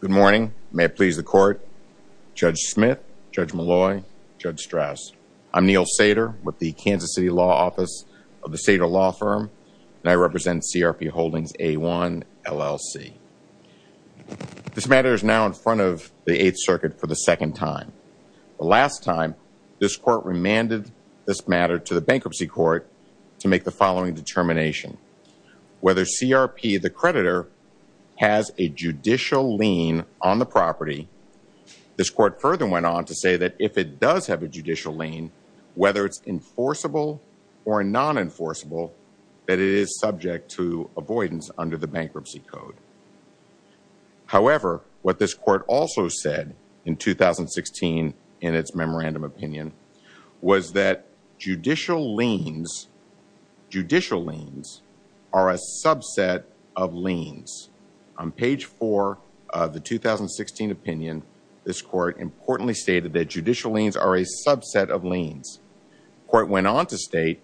Good morning. May it please the court. Judge Smith, Judge Malloy, Judge Strauss, I'm Neil Sater with the Kansas City Law Office of the Sater Law Firm, and I represent CRP Holdings, A-1, LLC. This matter is now in front of the Eighth Circuit for the second time. The last time, this court remanded this matter to the bankruptcy court to make the following determination. Whether CRP, the creditor, has a judicial lien on the property, this court further went on to say that if it does have a judicial lien, whether it's enforceable or non-enforceable, that it is subject to avoidance under the bankruptcy code. However, what this court also said in 2016 in its memorandum opinion was that judicial liens are a subset of liens. On page four of the 2016 opinion, this court importantly stated that judicial liens are a subset of liens. The court went on to state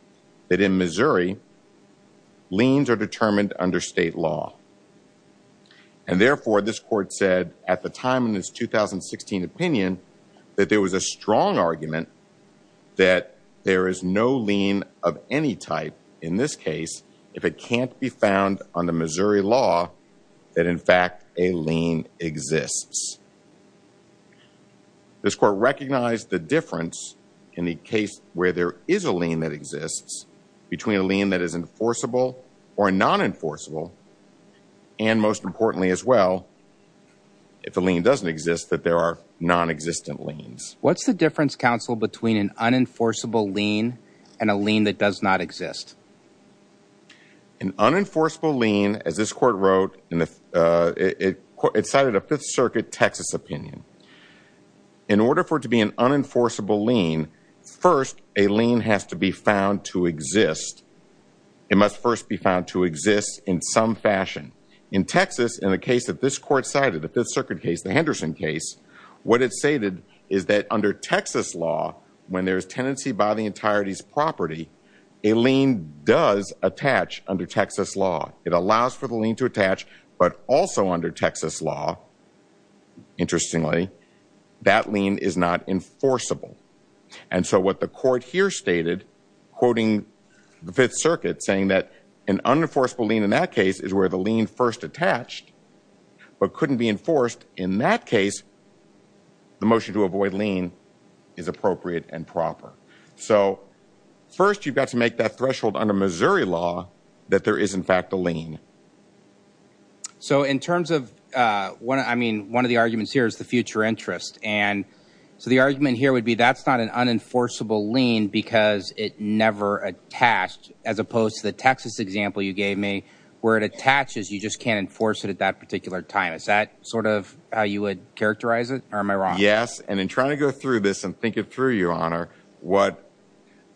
that in Missouri, liens are determined under state law. And therefore, this court said at the time in its 2016 opinion that there was a strong argument that there is no lien of any type in this case if it can't be found on the Missouri law that in fact a lien exists. This court recognized the difference in the case where there is a lien that exists between a lien that is enforceable or non-enforceable and most importantly as well, if a lien doesn't exist, that there are non-existent liens. What's the difference, counsel, between an unenforceable lien and a lien that does not exist? An unenforceable lien, as this court wrote, it cited a Fifth Circuit Texas opinion. In order for it to be an unenforceable lien, first, a lien has to be found to exist. It must first be found to exist in some fashion. In Texas, in the case that this court cited, the Fifth Circuit case, the Henderson case, what it stated is that under Texas law, when there is tenancy by the entirety's property, a lien does attach under Texas law. It allows for the lien to attach, but also under Texas law, interestingly, that lien is not enforceable. And so what the court here stated, quoting the Fifth Circuit, saying that an unenforceable lien in that case is where the lien first attached, but couldn't be enforced in that case, the motion to avoid lien is appropriate and proper. So first you've got to make that So in terms of, I mean, one of the arguments here is the future interest. And so the argument here would be that's not an unenforceable lien because it never attached, as opposed to the Texas example you gave me, where it attaches, you just can't enforce it at that particular time. Is that sort of how you would characterize it, or am I wrong? Yes. And in trying to go through this and think it through, Your Honor, what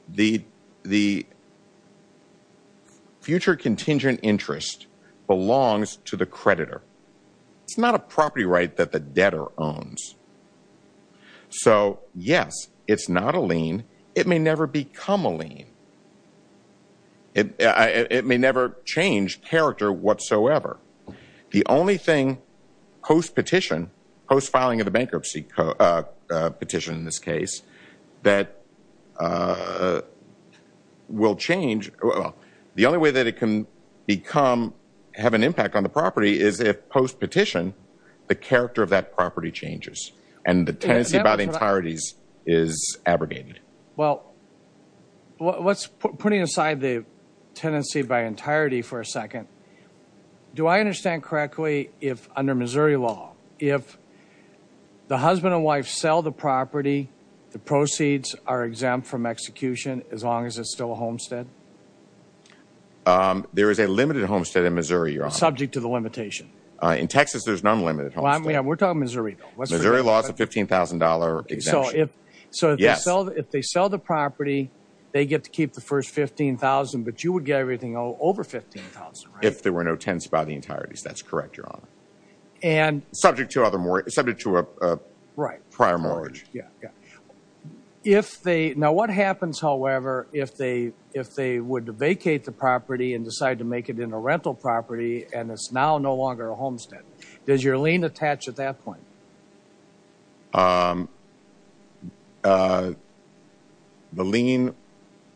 the future contingent interest belongs to the creditor. It's not a property right that the debtor owns. So yes, it's not a lien. It may never become a lien. It may never change character whatsoever. The only thing post-petition, post-filing of the bankruptcy petition in this case, that will change, the only way that it can become, have an impact on the property is if post-petition, the character of that property changes. And the tenancy by the entirety is abrogated. Well, let's put putting aside the tenancy by entirety for a second. Do I understand correctly if under Missouri law, if the husband and wife sell the property, the proceeds are exempt from execution as long as it's still a homestead? There is a limited homestead in Missouri, Your Honor. Subject to the limitation. In Texas, there's an unlimited homestead. We're talking Missouri, though. Missouri law is a $15,000 exemption. So if they sell the property, they get to keep the first $15,000, but you would get everything over $15,000, right? If there were no tenancy by the entirety. That's correct, Your Honor. Subject to a prior mortgage. Now, what happens, however, if they would vacate the property and decide to make it in a rental property and it's now no longer a homestead? Does your lien attach at that point? The lien,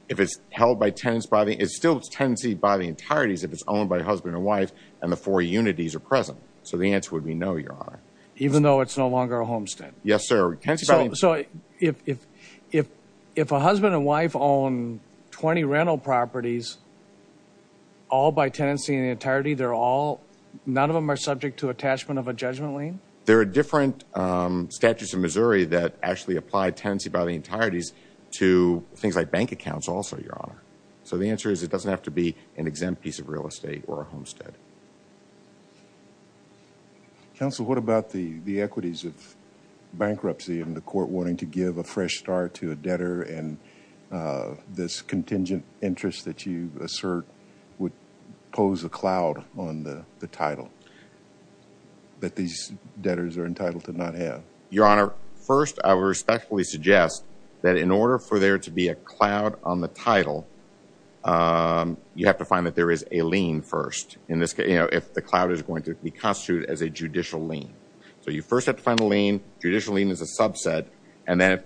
if it's held by tenancy by the, it's still tenancy by the entirety if it's owned by a husband and wife and the four unities are present. So the answer would be no, Your Honor. Even though it's no longer a homestead? Yes, sir. So if a husband and wife own 20 rental properties all by tenancy and the entirety, they're all, none of them are subject to attachment of a judgment lien? There are different statutes in Missouri that actually apply tenancy by the entireties to things like bank accounts also, Your Honor. The answer is it doesn't have to be an exempt piece of real estate or a homestead. Counsel, what about the equities of bankruptcy and the court wanting to give a fresh start to a debtor and this contingent interest that you assert would pose a cloud on the title that these debtors are entitled to not have? Your Honor, first, I would respectfully suggest that in order for there to be a cloud on the title, you have to find that there is a lien first in this case, you know, if the cloud is going to be constituted as a judicial lien. So you first have to find the lien. Judicial lien is a subset. And then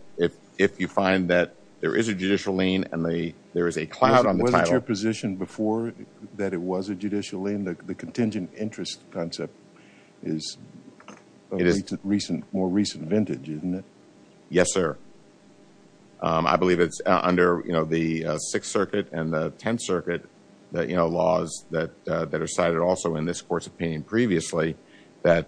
if you find that there is a judicial lien and there is a cloud on the title- Wasn't your position before that it was a judicial lien, the contingent interest concept is more recent vintage, isn't it? Yes, sir. I believe it's under, you know, the Sixth Circuit and the Tenth Circuit that, you know, laws that are cited also in this court's opinion previously that,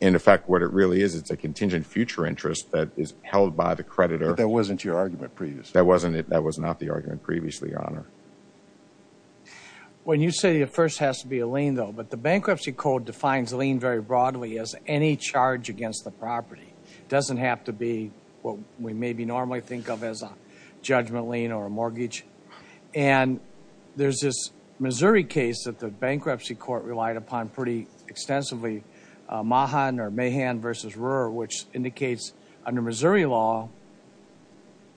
in effect, what it really is, it's a contingent future interest that is held by the creditor. But that wasn't your argument previously. That wasn't it. That was not the argument previously, Your Honor. When you say it first has to be a lien, though, but the Bankruptcy Code defines lien very broadly as any charge against the property. It doesn't have to be what we maybe normally think of as a judgment lien or a mortgage. And there's this Missouri case that the bankruptcy court relied upon pretty extensively, Mahan or Mahan v. Rohrer, which indicates under Missouri law,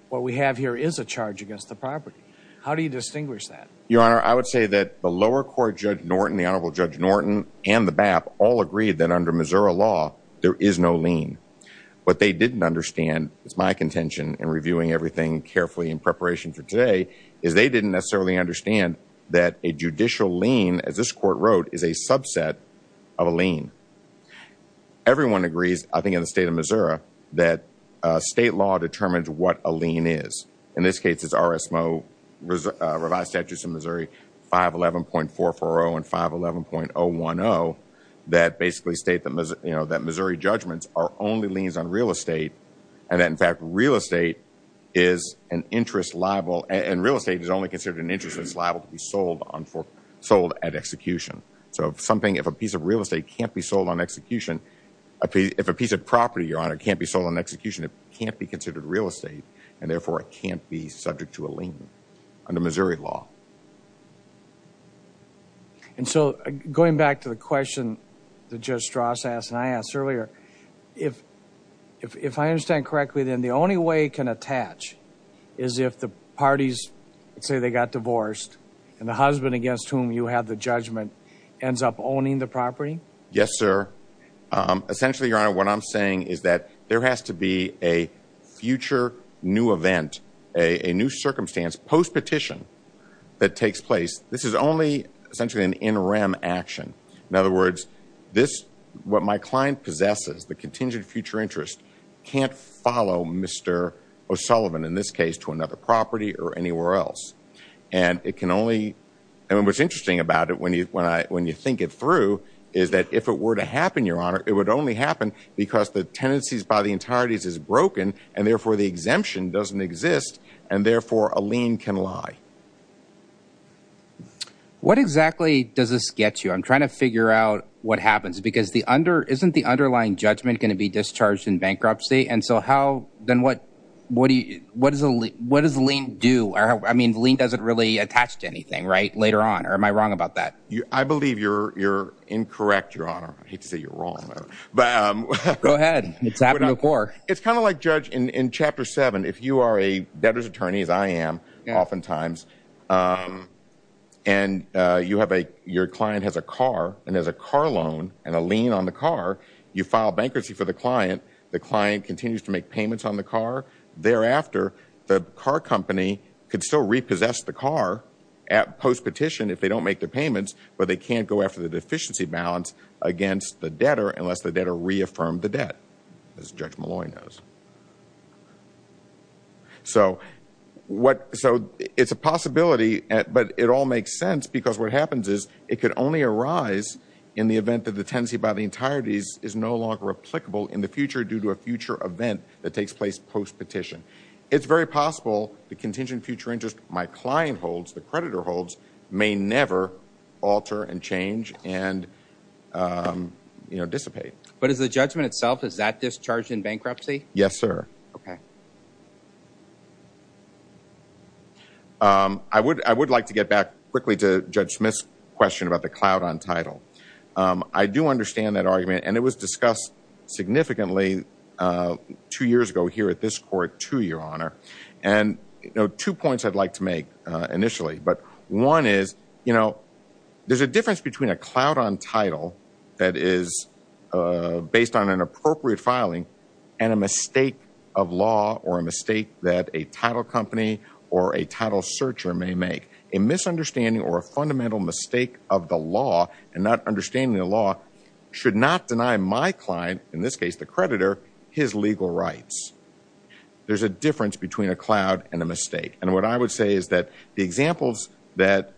what we have here is a charge against the property. How do you distinguish that? Your Honor, I would say that the lower court, Judge Norton, the Honorable Judge Norton and the BAP all agreed that under Missouri law, there is no lien. What they didn't understand, it's my contention in reviewing everything carefully in preparation for today, is they didn't necessarily understand that a judicial lien, as this court wrote, is a subset of a lien. Everyone agrees, I think in the state of Missouri, that state law determines what a lien is. In this case, it's RSMO, Revised Statutes of Missouri 511.440 and 511.010 that basically state that Missouri judgments are only liens on real estate and that in fact, real estate is an interest liable and real estate is only considered an interest that's liable to be sold at execution. So if something, if a piece of real estate can't be sold on execution, if a piece of property, Your Honor, can't be sold on execution, it can't be considered real estate and therefore it can't be subject to lien under Missouri law. And so going back to the question that Judge Strauss asked and I asked earlier, if I understand correctly, then the only way it can attach is if the parties say they got divorced and the husband against whom you have the judgment ends up owning the property? Yes, sir. Essentially, Your Honor, what I'm saying is that there has to be a future new event, a new circumstance post-petition that takes place. This is only essentially an interim action. In other words, this, what my client possesses, the contingent future interest, can't follow Mr. O'Sullivan in this case to another property or anywhere else. And it can only, and what's interesting about it when you think it through is that if it were to happen, Your Honor, it would only happen because the tenancies by the entireties is broken and therefore the exemption doesn't exist and therefore a lien can lie. What exactly does this get you? I'm trying to figure out what happens because the under, isn't the underlying judgment going to be discharged in bankruptcy? And so how, then what, what do you, what does a lien, what does a lien do? I mean, the lien doesn't really attach to anything, right, later on, or am I wrong about that? I believe you're, you're incorrect, Your Honor. I hate to say you're wrong. Go ahead. It's happened before. It's kind of like, Judge, in, in chapter seven, if you are a debtor's attorney, as I am oftentimes, and you have a, your client has a car and there's a car loan and a lien on the car, you file bankruptcy for the client. The client continues to make payments on the car. Thereafter, the car company could still repossess the car at post-petition if they don't make the payments, but they can't go after the deficiency balance against the debtor unless the debtor reaffirmed the debt, as Judge Malloy knows. So what, so it's a possibility, but it all makes sense because what happens is it could only arise in the event that the tenancy by the entirety is no longer applicable in the future due to a future event that takes place post-petition. It's very possible the contingent future interest my client holds, the creditor holds, may never alter and change and, you know, dissipate. But is the judgment itself, is that discharged in bankruptcy? Yes, sir. Okay. I would, I would like to get back quickly to Judge Smith's question about the cloud on title. I do understand that argument and it was discussed significantly two years ago here at this court, too, Your Honor. And two points I'd like to make initially, but one is, you know, there's a difference between a cloud on title that is based on an appropriate filing and a mistake of law or a mistake that a title company or a title searcher may make. A misunderstanding or a fundamental mistake of the law and not understanding the law should not deny my client, in this case, the creditor, his legal rights. There's a difference between a cloud and a mistake. And what I would say is that the examples that,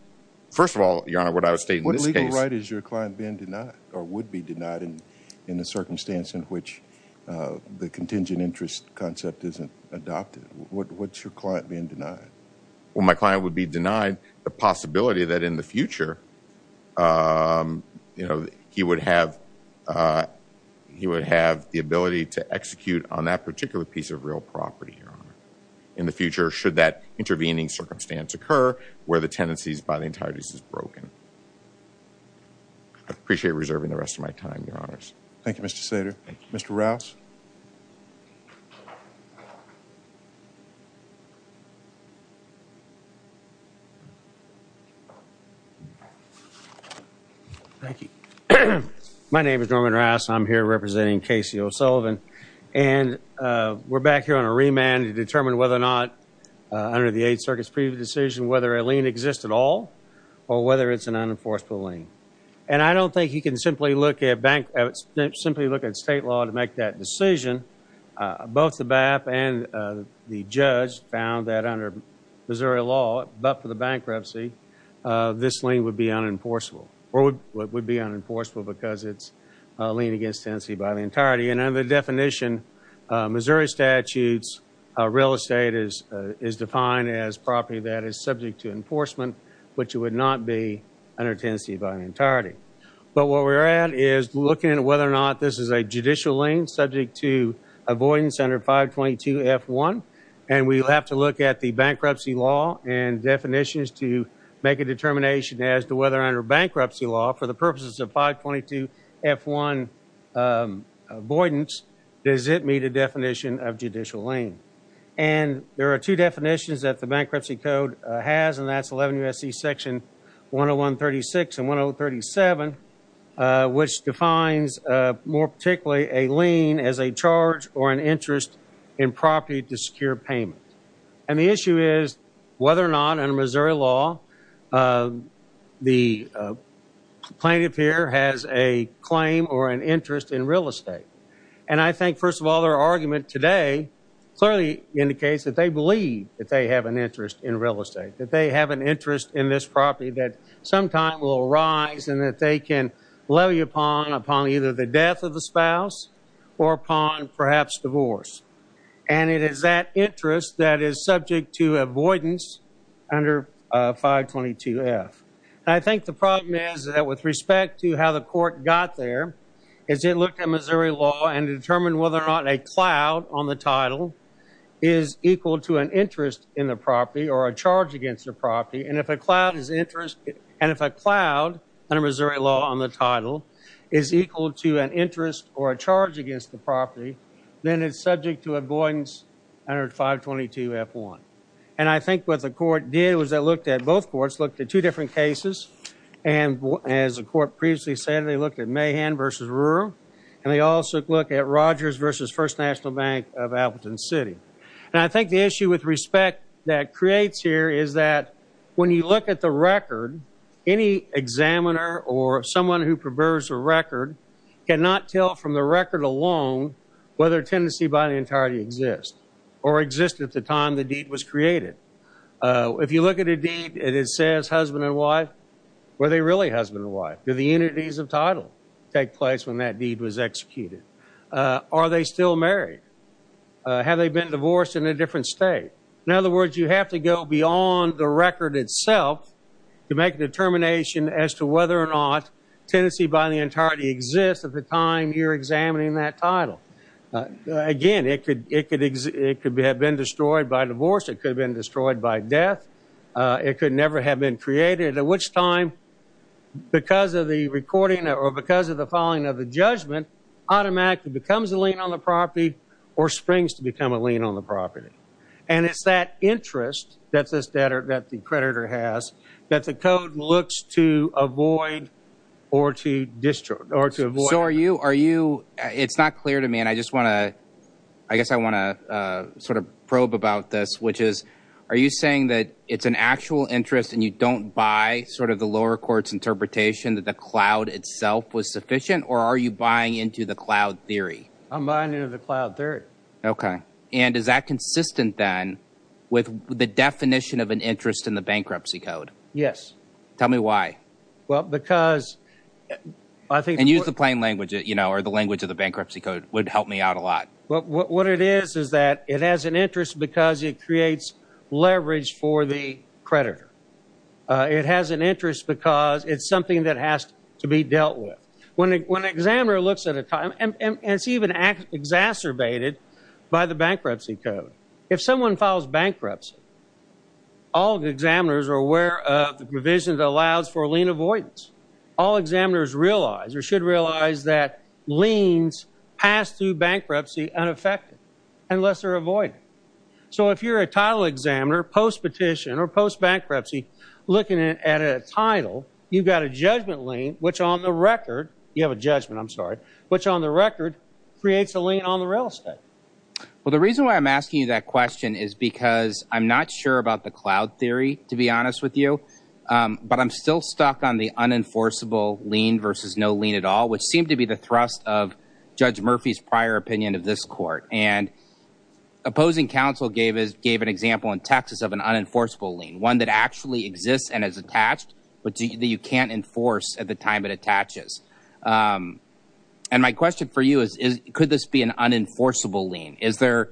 first of all, Your Honor, what I would state in this case... What legal right is your client being denied or would be denied in the circumstance in which the contingent interest concept isn't adopted? What's your client being denied? Well, my client would be denied the possibility that in the future, you know, he would have, he would have the ability to execute on that particular piece of real property, Your Honor, in the future should that intervening circumstance occur where the tenancies by the entirety is broken. I appreciate you reserving the rest of my time, Your Honors. Thank you, Mr. Sater. Mr. Rouse. Thank you. My name is Norman Rouse. I'm here representing Casey O'Sullivan. And we're back here on a remand to determine whether or not, under the Eighth Circuit's previous decision, whether a lien exists at all or whether it's an unenforceable lien. And I don't think you can simply look at bank, simply look at state law to make that decision. Both the BAP and the judge found that under Missouri law, but for the bankruptcy, this lien would be unenforceable or would be unenforceable because it's a lien against tenancy by the entirety. And under the definition, Missouri statutes, real estate is defined as property that is subject to enforcement, which it would not be under tenancy by the entirety. But what we're at is looking at whether or not this is a judicial lien subject to avoidance under 522F1. And we'll have to look at the bankruptcy law and definitions to make a determination as to whether under bankruptcy law, for the purposes of 522F1 avoidance, does it meet a definition of judicial lien? And there are two definitions that the bankruptcy code has, and that's 11 U.S.C. section 10136 and 1037, which defines more particularly a lien as a charge or an interest in property to secure payment. And the issue is whether or not under Missouri law, the plaintiff here has a claim or an interest in real estate. And I think, first of all, their argument today clearly indicates that they believe that they have an interest in real estate, that they have an interest in this property that sometime will arise and that they can levy upon either the death of the spouse or upon perhaps divorce. And it is that interest that is subject to avoidance under 522F. And I think the problem is that with respect to how the court got there is it looked at Missouri law and determined whether or not or a charge against the property. And if a cloud is interest, and if a cloud under Missouri law on the title is equal to an interest or a charge against the property, then it's subject to avoidance under 522F1. And I think what the court did was they looked at both courts, looked at two different cases. And as the court previously said, they looked at Mahan versus Rural. And they also look at Rogers versus First National Bank of Appleton City. And I think the issue with respect that creates here is that when you look at the record, any examiner or someone who prefers a record cannot tell from the record alone whether a tenancy by the entirety exists or existed at the time the deed was created. If you look at a deed and it says husband and wife, were they really husband and wife? Do the entities of title take place when that deed was executed? Are they still married? Have they been divorced in a different state? In other words, you have to go beyond the record itself to make a determination as to whether or not tenancy by the entirety exists at the time you're examining that title. Again, it could have been destroyed by divorce. It could have been destroyed by death. It could never have been created. At which time, because of the recording or because of the following of the judgment, automatically becomes a lien on the property or springs to become a lien on the property. And it's that interest that the creditor has that the code looks to avoid or to destroy or to avoid. So are you, are you, it's not clear to me and I just want to, I guess I want to sort of probe about this, which is, are you saying that it's an actual interest and you don't buy sort of the lower court's interpretation that the cloud itself was sufficient? Or are you buying into the cloud theory? I'm buying into the cloud theory. Okay, and is that consistent then with the definition of an interest in the bankruptcy code? Yes. Tell me why. Well, because I think... And use the plain language, you know, or the language of the bankruptcy code would help me out a lot. Well, what it is is that it has an interest because it creates leverage for the creditor. It has an interest because it's something that has to be dealt with. When an examiner looks at a time, and it's even exacerbated by the bankruptcy code. If someone files bankruptcy, all the examiners are aware of the provision that allows for lien avoidance. All examiners realize or should realize that liens pass through bankruptcy unaffected unless they're avoided. So if you're a title examiner, post-petition or post-bankruptcy looking at a title, you've got a judgment lien, which on the record, you have a judgment, I'm sorry, which on the record creates a lien on the real estate. Well, the reason why I'm asking you that question is because I'm not sure about the cloud theory, to be honest with you, but I'm still stuck on the unenforceable lien versus no lien at all, which seemed to be the thrust of Judge Murphy's prior opinion of this court. And opposing counsel gave an example in Texas of an unenforceable lien, one that actually exists and is attached, but that you can't enforce at the time it attaches. And my question for you is, could this be an unenforceable lien? Is there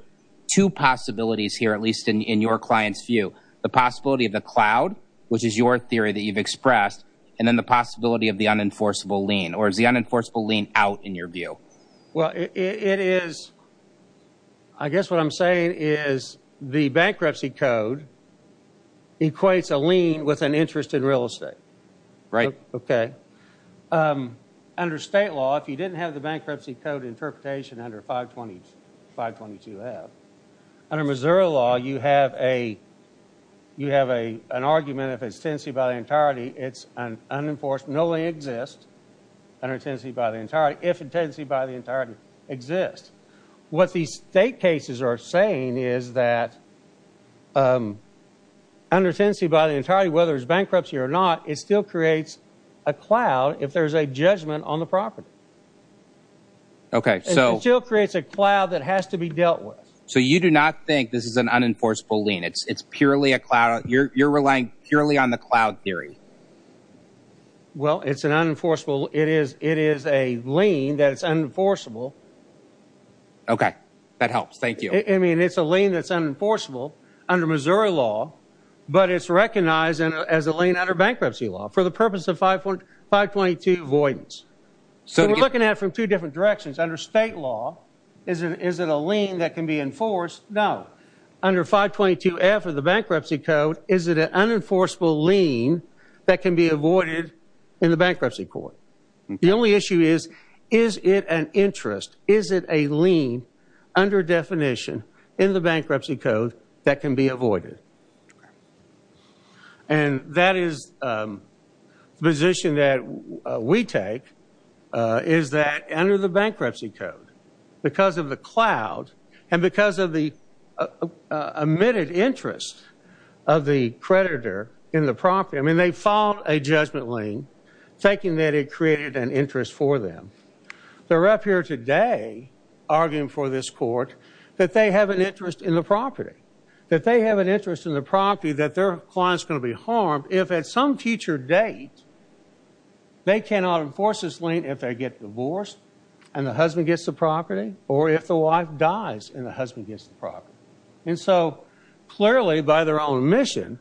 two possibilities here, at least in your client's view, the possibility of the cloud, which is your theory that you've expressed, and then the possibility of the unenforceable lien, or is the unenforceable lien out in your view? Well, it is. I guess what I'm saying is the bankruptcy code equates a lien with an interest in real estate. Right. Okay. Under state law, if you didn't have the bankruptcy code interpretation under 522 have, under Missouri law, you have an argument if it's tenancy by the entirety, it's unenforced, no lien exists under tenancy by the entirety, if it's tenancy by the entirety exists. What these state cases are saying is that under tenancy by the entirety, whether it's bankruptcy or not, it still creates a cloud if there's a judgment on the property. Okay. It still creates a cloud that has to be dealt with. So you do not think this is an unenforceable lien. It's purely a cloud. You're relying purely on the cloud theory. Well, it's an unenforceable. It is a lien that's unenforceable. Okay. That helps. Thank you. I mean, it's a lien that's unenforceable. Under Missouri law, but it's recognized as a lien under bankruptcy law for the purpose of 522 avoidance. So we're looking at it from two different directions. Under state law, is it a lien that can be enforced? No. Under 522F of the bankruptcy code, is it an unenforceable lien that can be avoided in the bankruptcy court? The only issue is, is it an interest? Is it a lien under definition in the bankruptcy code that can be avoided? And that is the position that we take, is that under the bankruptcy code, because of the cloud, and because of the emitted interest of the creditor in the property. I mean, they filed a judgment lien, thinking that it created an interest for them. The ref here today, arguing for this court, that they have an interest in the property, that they have an interest in the property, that their client's going to be harmed if at some future date, they cannot enforce this lien if they get divorced and the husband gets the property, or if the wife dies and the husband gets the property. And so, clearly by their own mission,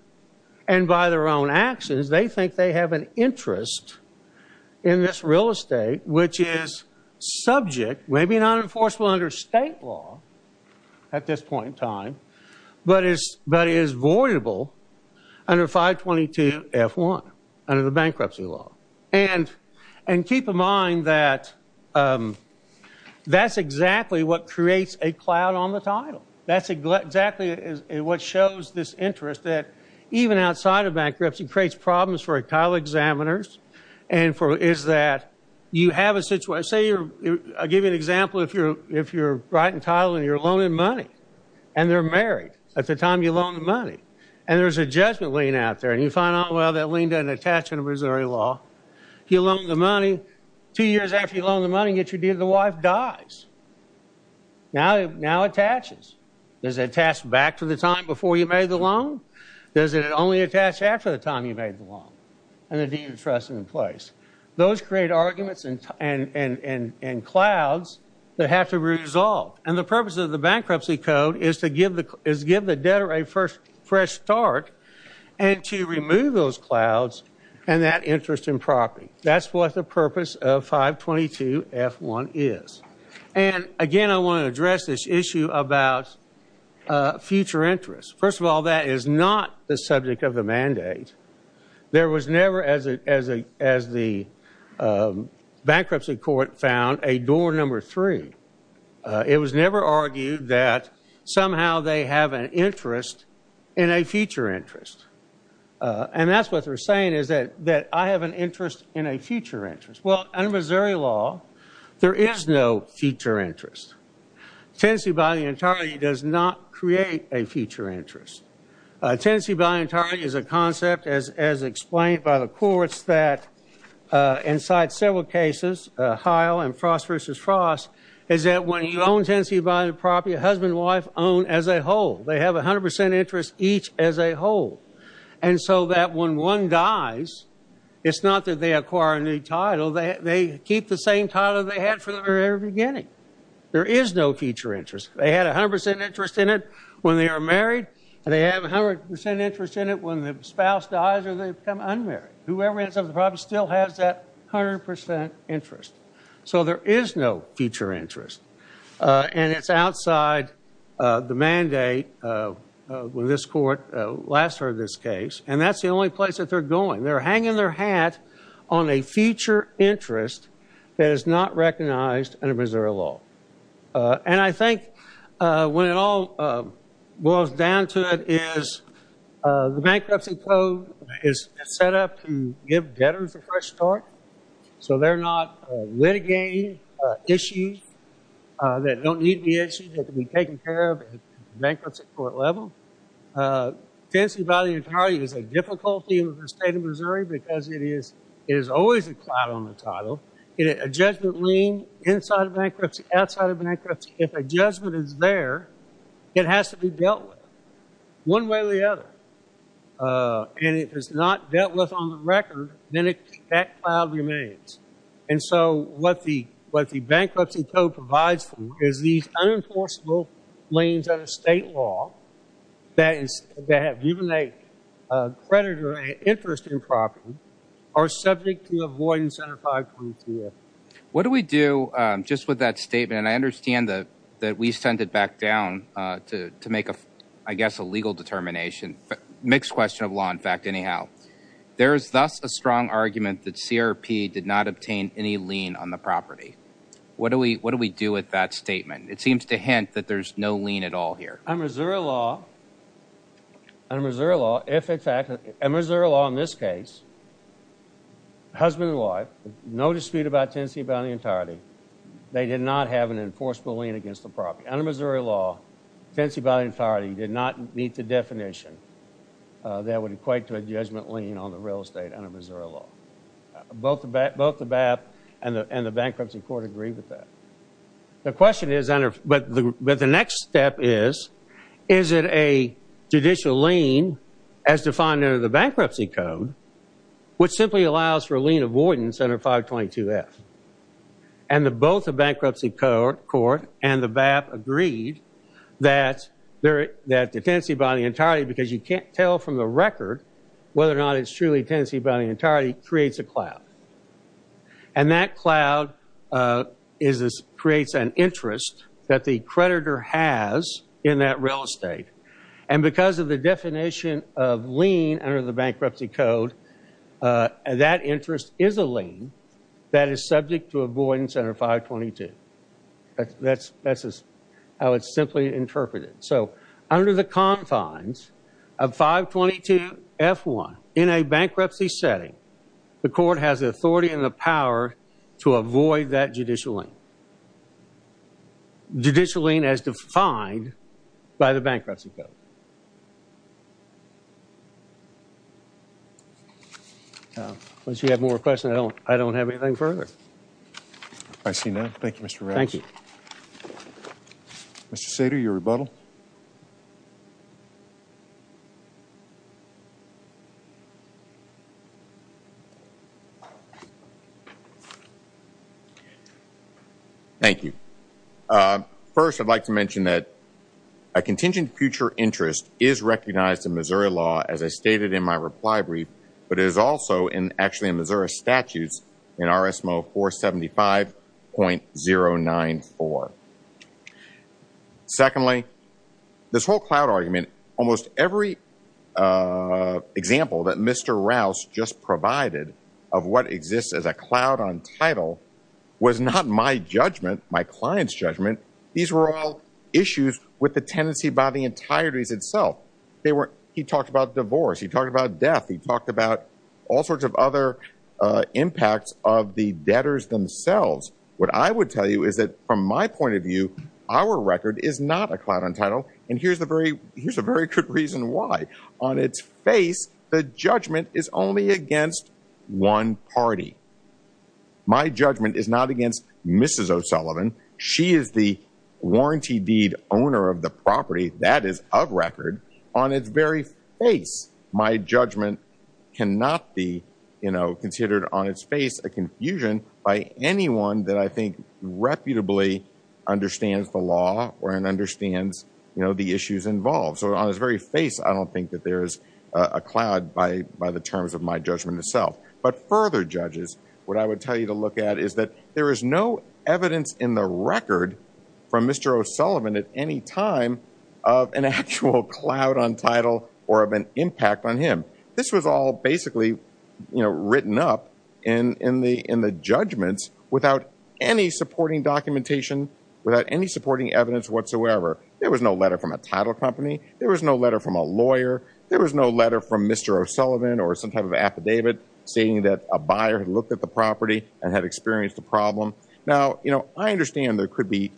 and by their own actions, they think they have an interest in this real estate, which is subject, maybe not enforceable under state law, at this point in time, but is voidable under 522F1, under the bankruptcy law. And keep in mind that that's exactly what creates a cloud on the title. That's exactly what shows this interest, that even outside of bankruptcy, creates problems for title examiners, and is that you have a situation, say you're, I'll give you an example, if you're right in title and you're loaning money, and they're married at the time you loan the money, and there's a judgment lien out there, and you find out, well, that lien doesn't attach under Missouri law. You loan the money, two years after you loan the money, yet your dear, the wife dies. Now it attaches. Does it attach back to the time before you made the loan? Does it only attach after the time you made the loan? And the deed of trust is in place. Those create arguments and clouds that have to be resolved. And the purpose of the bankruptcy code is to give the debtor a fresh start and to remove those clouds and that interest in property. That's what the purpose of 522F1 is. And again, I want to address this issue about future interest. First of all, that is not the subject of the mandate. There was never, as the bankruptcy court found, a door number three. It was never argued that somehow they have an interest in a future interest. And that's what they're saying is that I have an interest in a future interest. Well, under Missouri law, there is no future interest. Tenancy by the entirety does not create a future interest. Tenancy by entirety is a concept as explained by the courts that inside several cases, Heil and Frost v. Frost, is that when you own tenancy by the property, a husband and wife own as a whole. They have 100% interest each as a whole. And so that when one dies, it's not that they acquire a new title. They keep the same title they had from the very beginning. There is no future interest. They had 100% interest in it when they are married and they have 100% interest in it when the spouse dies or they become unmarried. Whoever owns the property still has that 100% interest. So there is no future interest. And it's outside the mandate when this court last heard this case. And that's the only place that they're going. They're hanging their hat on a future interest that is not recognized under Missouri law. And I think when it all boils down to it is the bankruptcy code is set up to give debtors a fresh start. So they're not litigating issues that don't need to be issues that can be taken care of at the bankruptcy court level. Tenancy by the entirety is a difficulty in the state of Missouri because it is always a cloud on the title. A judgment lien inside of bankruptcy, outside of bankruptcy, if a judgment is there, it has to be dealt with one way or the other. And if it's not dealt with on the record, then that cloud remains. And so what the bankruptcy code provides for is these unenforceable liens under state law that have given a creditor an interest in property are subject to avoidance under 520-F. What do we do just with that statement? And I understand that we send it back down to make a, I guess, a legal determination. Mixed question of law, in fact, anyhow. There is thus a strong argument that CRP did not obtain any lien on the property. What do we do with that statement? It seems to hint that there's no lien at all here. Under Missouri law, under Missouri law in this case, husband and wife, no dispute about tenancy by the entirety, they did not have an enforceable lien against the property. Under Missouri law, tenancy by the entirety did not meet the definition that would equate to a judgment lien on the real estate under Missouri law. Both the BAP and the bankruptcy court agree with that. The question is, but the next step is, is it a judicial lien as defined under the bankruptcy code which simply allows for lien avoidance under 522F? And both the bankruptcy court and the BAP agreed that the tenancy by the entirety, because you can't tell from the record whether or not it's truly tenancy by the entirety, creates a cloud. And that cloud creates an interest that the creditor has in that real estate. And because of the definition of lien under the bankruptcy code, that interest is a lien that is subject to avoidance under 522. That's how it's simply interpreted. So under the confines of 522F1, in a bankruptcy setting, the court has authority and the power to avoid that judicial lien. Judicial lien as defined by the bankruptcy code. Once you have more questions, I don't have anything further. I see none. Thank you, Mr. Ramos. Thank you. Mr. Sater, your rebuttal. Thank you. First, I'd like to mention that a contingent future interest is recognized in Missouri law as I stated in my reply brief, but it is also actually in Missouri statutes in RSMO 475.094. Secondly, this whole cloud argument, almost every example that Mr. Rouse just provided of what exists as a cloud on title was not my judgment, my client's judgment. These were all issues with the tenancy by the entirety itself. He talked about divorce. He talked about death. He talked about all sorts of other impacts of the debtors themselves. What I would tell you is that from my point of view, our record is not a cloud on title. And here's a very good reason why. On its face, the judgment is only against one party. My judgment is not against Mrs. O'Sullivan. She is the warranty deed owner of the property that is of record. On its very face, my judgment cannot be considered on its face a confusion by anyone that I think reputably understands the law or understands the issues involved. So on his very face, I don't think that there's a cloud by the terms of my judgment itself. But further judges, what I would tell you to look at is that there is no evidence in the record from Mr. O'Sullivan at any time of an actual cloud on title or of an impact on him. This was all basically written up in the judgments without any supporting documentation, without any supporting evidence whatsoever. There was no letter from a title company. There was no letter from a lawyer. There was no letter from Mr. O'Sullivan or some type of affidavit saying that a buyer had looked at the property and had experienced a problem. Now, I understand there could be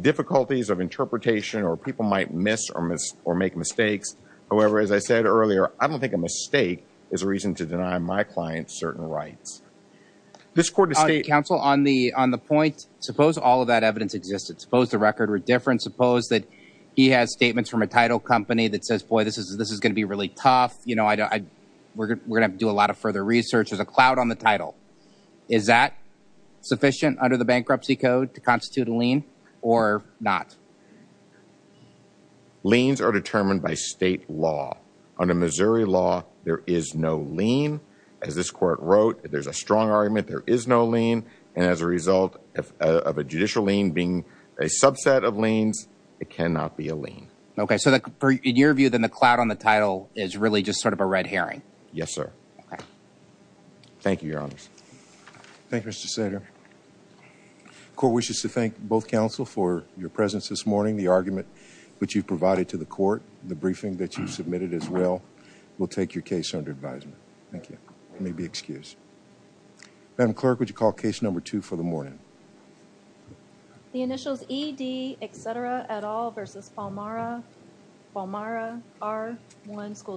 difficulties of interpretation or people might miss or make mistakes. However, as I said earlier, I don't think a mistake is a reason to deny my client certain rights. This court has stated- Counsel, on the point, suppose all of that evidence existed. Suppose the record were different. Suppose that he has statements from a title company that says, boy, this is going to be really tough. We're going to have to do a lot of further research. There's a cloud on the title. Is that sufficient under the bankruptcy code to constitute a lien or not? Liens are determined by state law. Under Missouri law, there is no lien. As this court wrote, there's a strong argument there is no lien. And as a result of a judicial lien being a subset of liens, it cannot be a lien. Okay. So in your view, then the cloud on the title is really just sort of a red herring. Yes, sir. Thank you, Your Honor. Thank you, Mr. Sater. The court wishes to thank both counsel for your presence this morning. The argument which you've provided to the court, the briefing that you submitted as well, will take your case under advisement. Thank you. You may be excused. Madam Clerk, would you call case number two for the morning? The initials E.D. Etcetera et al versus Palmara R1 School District.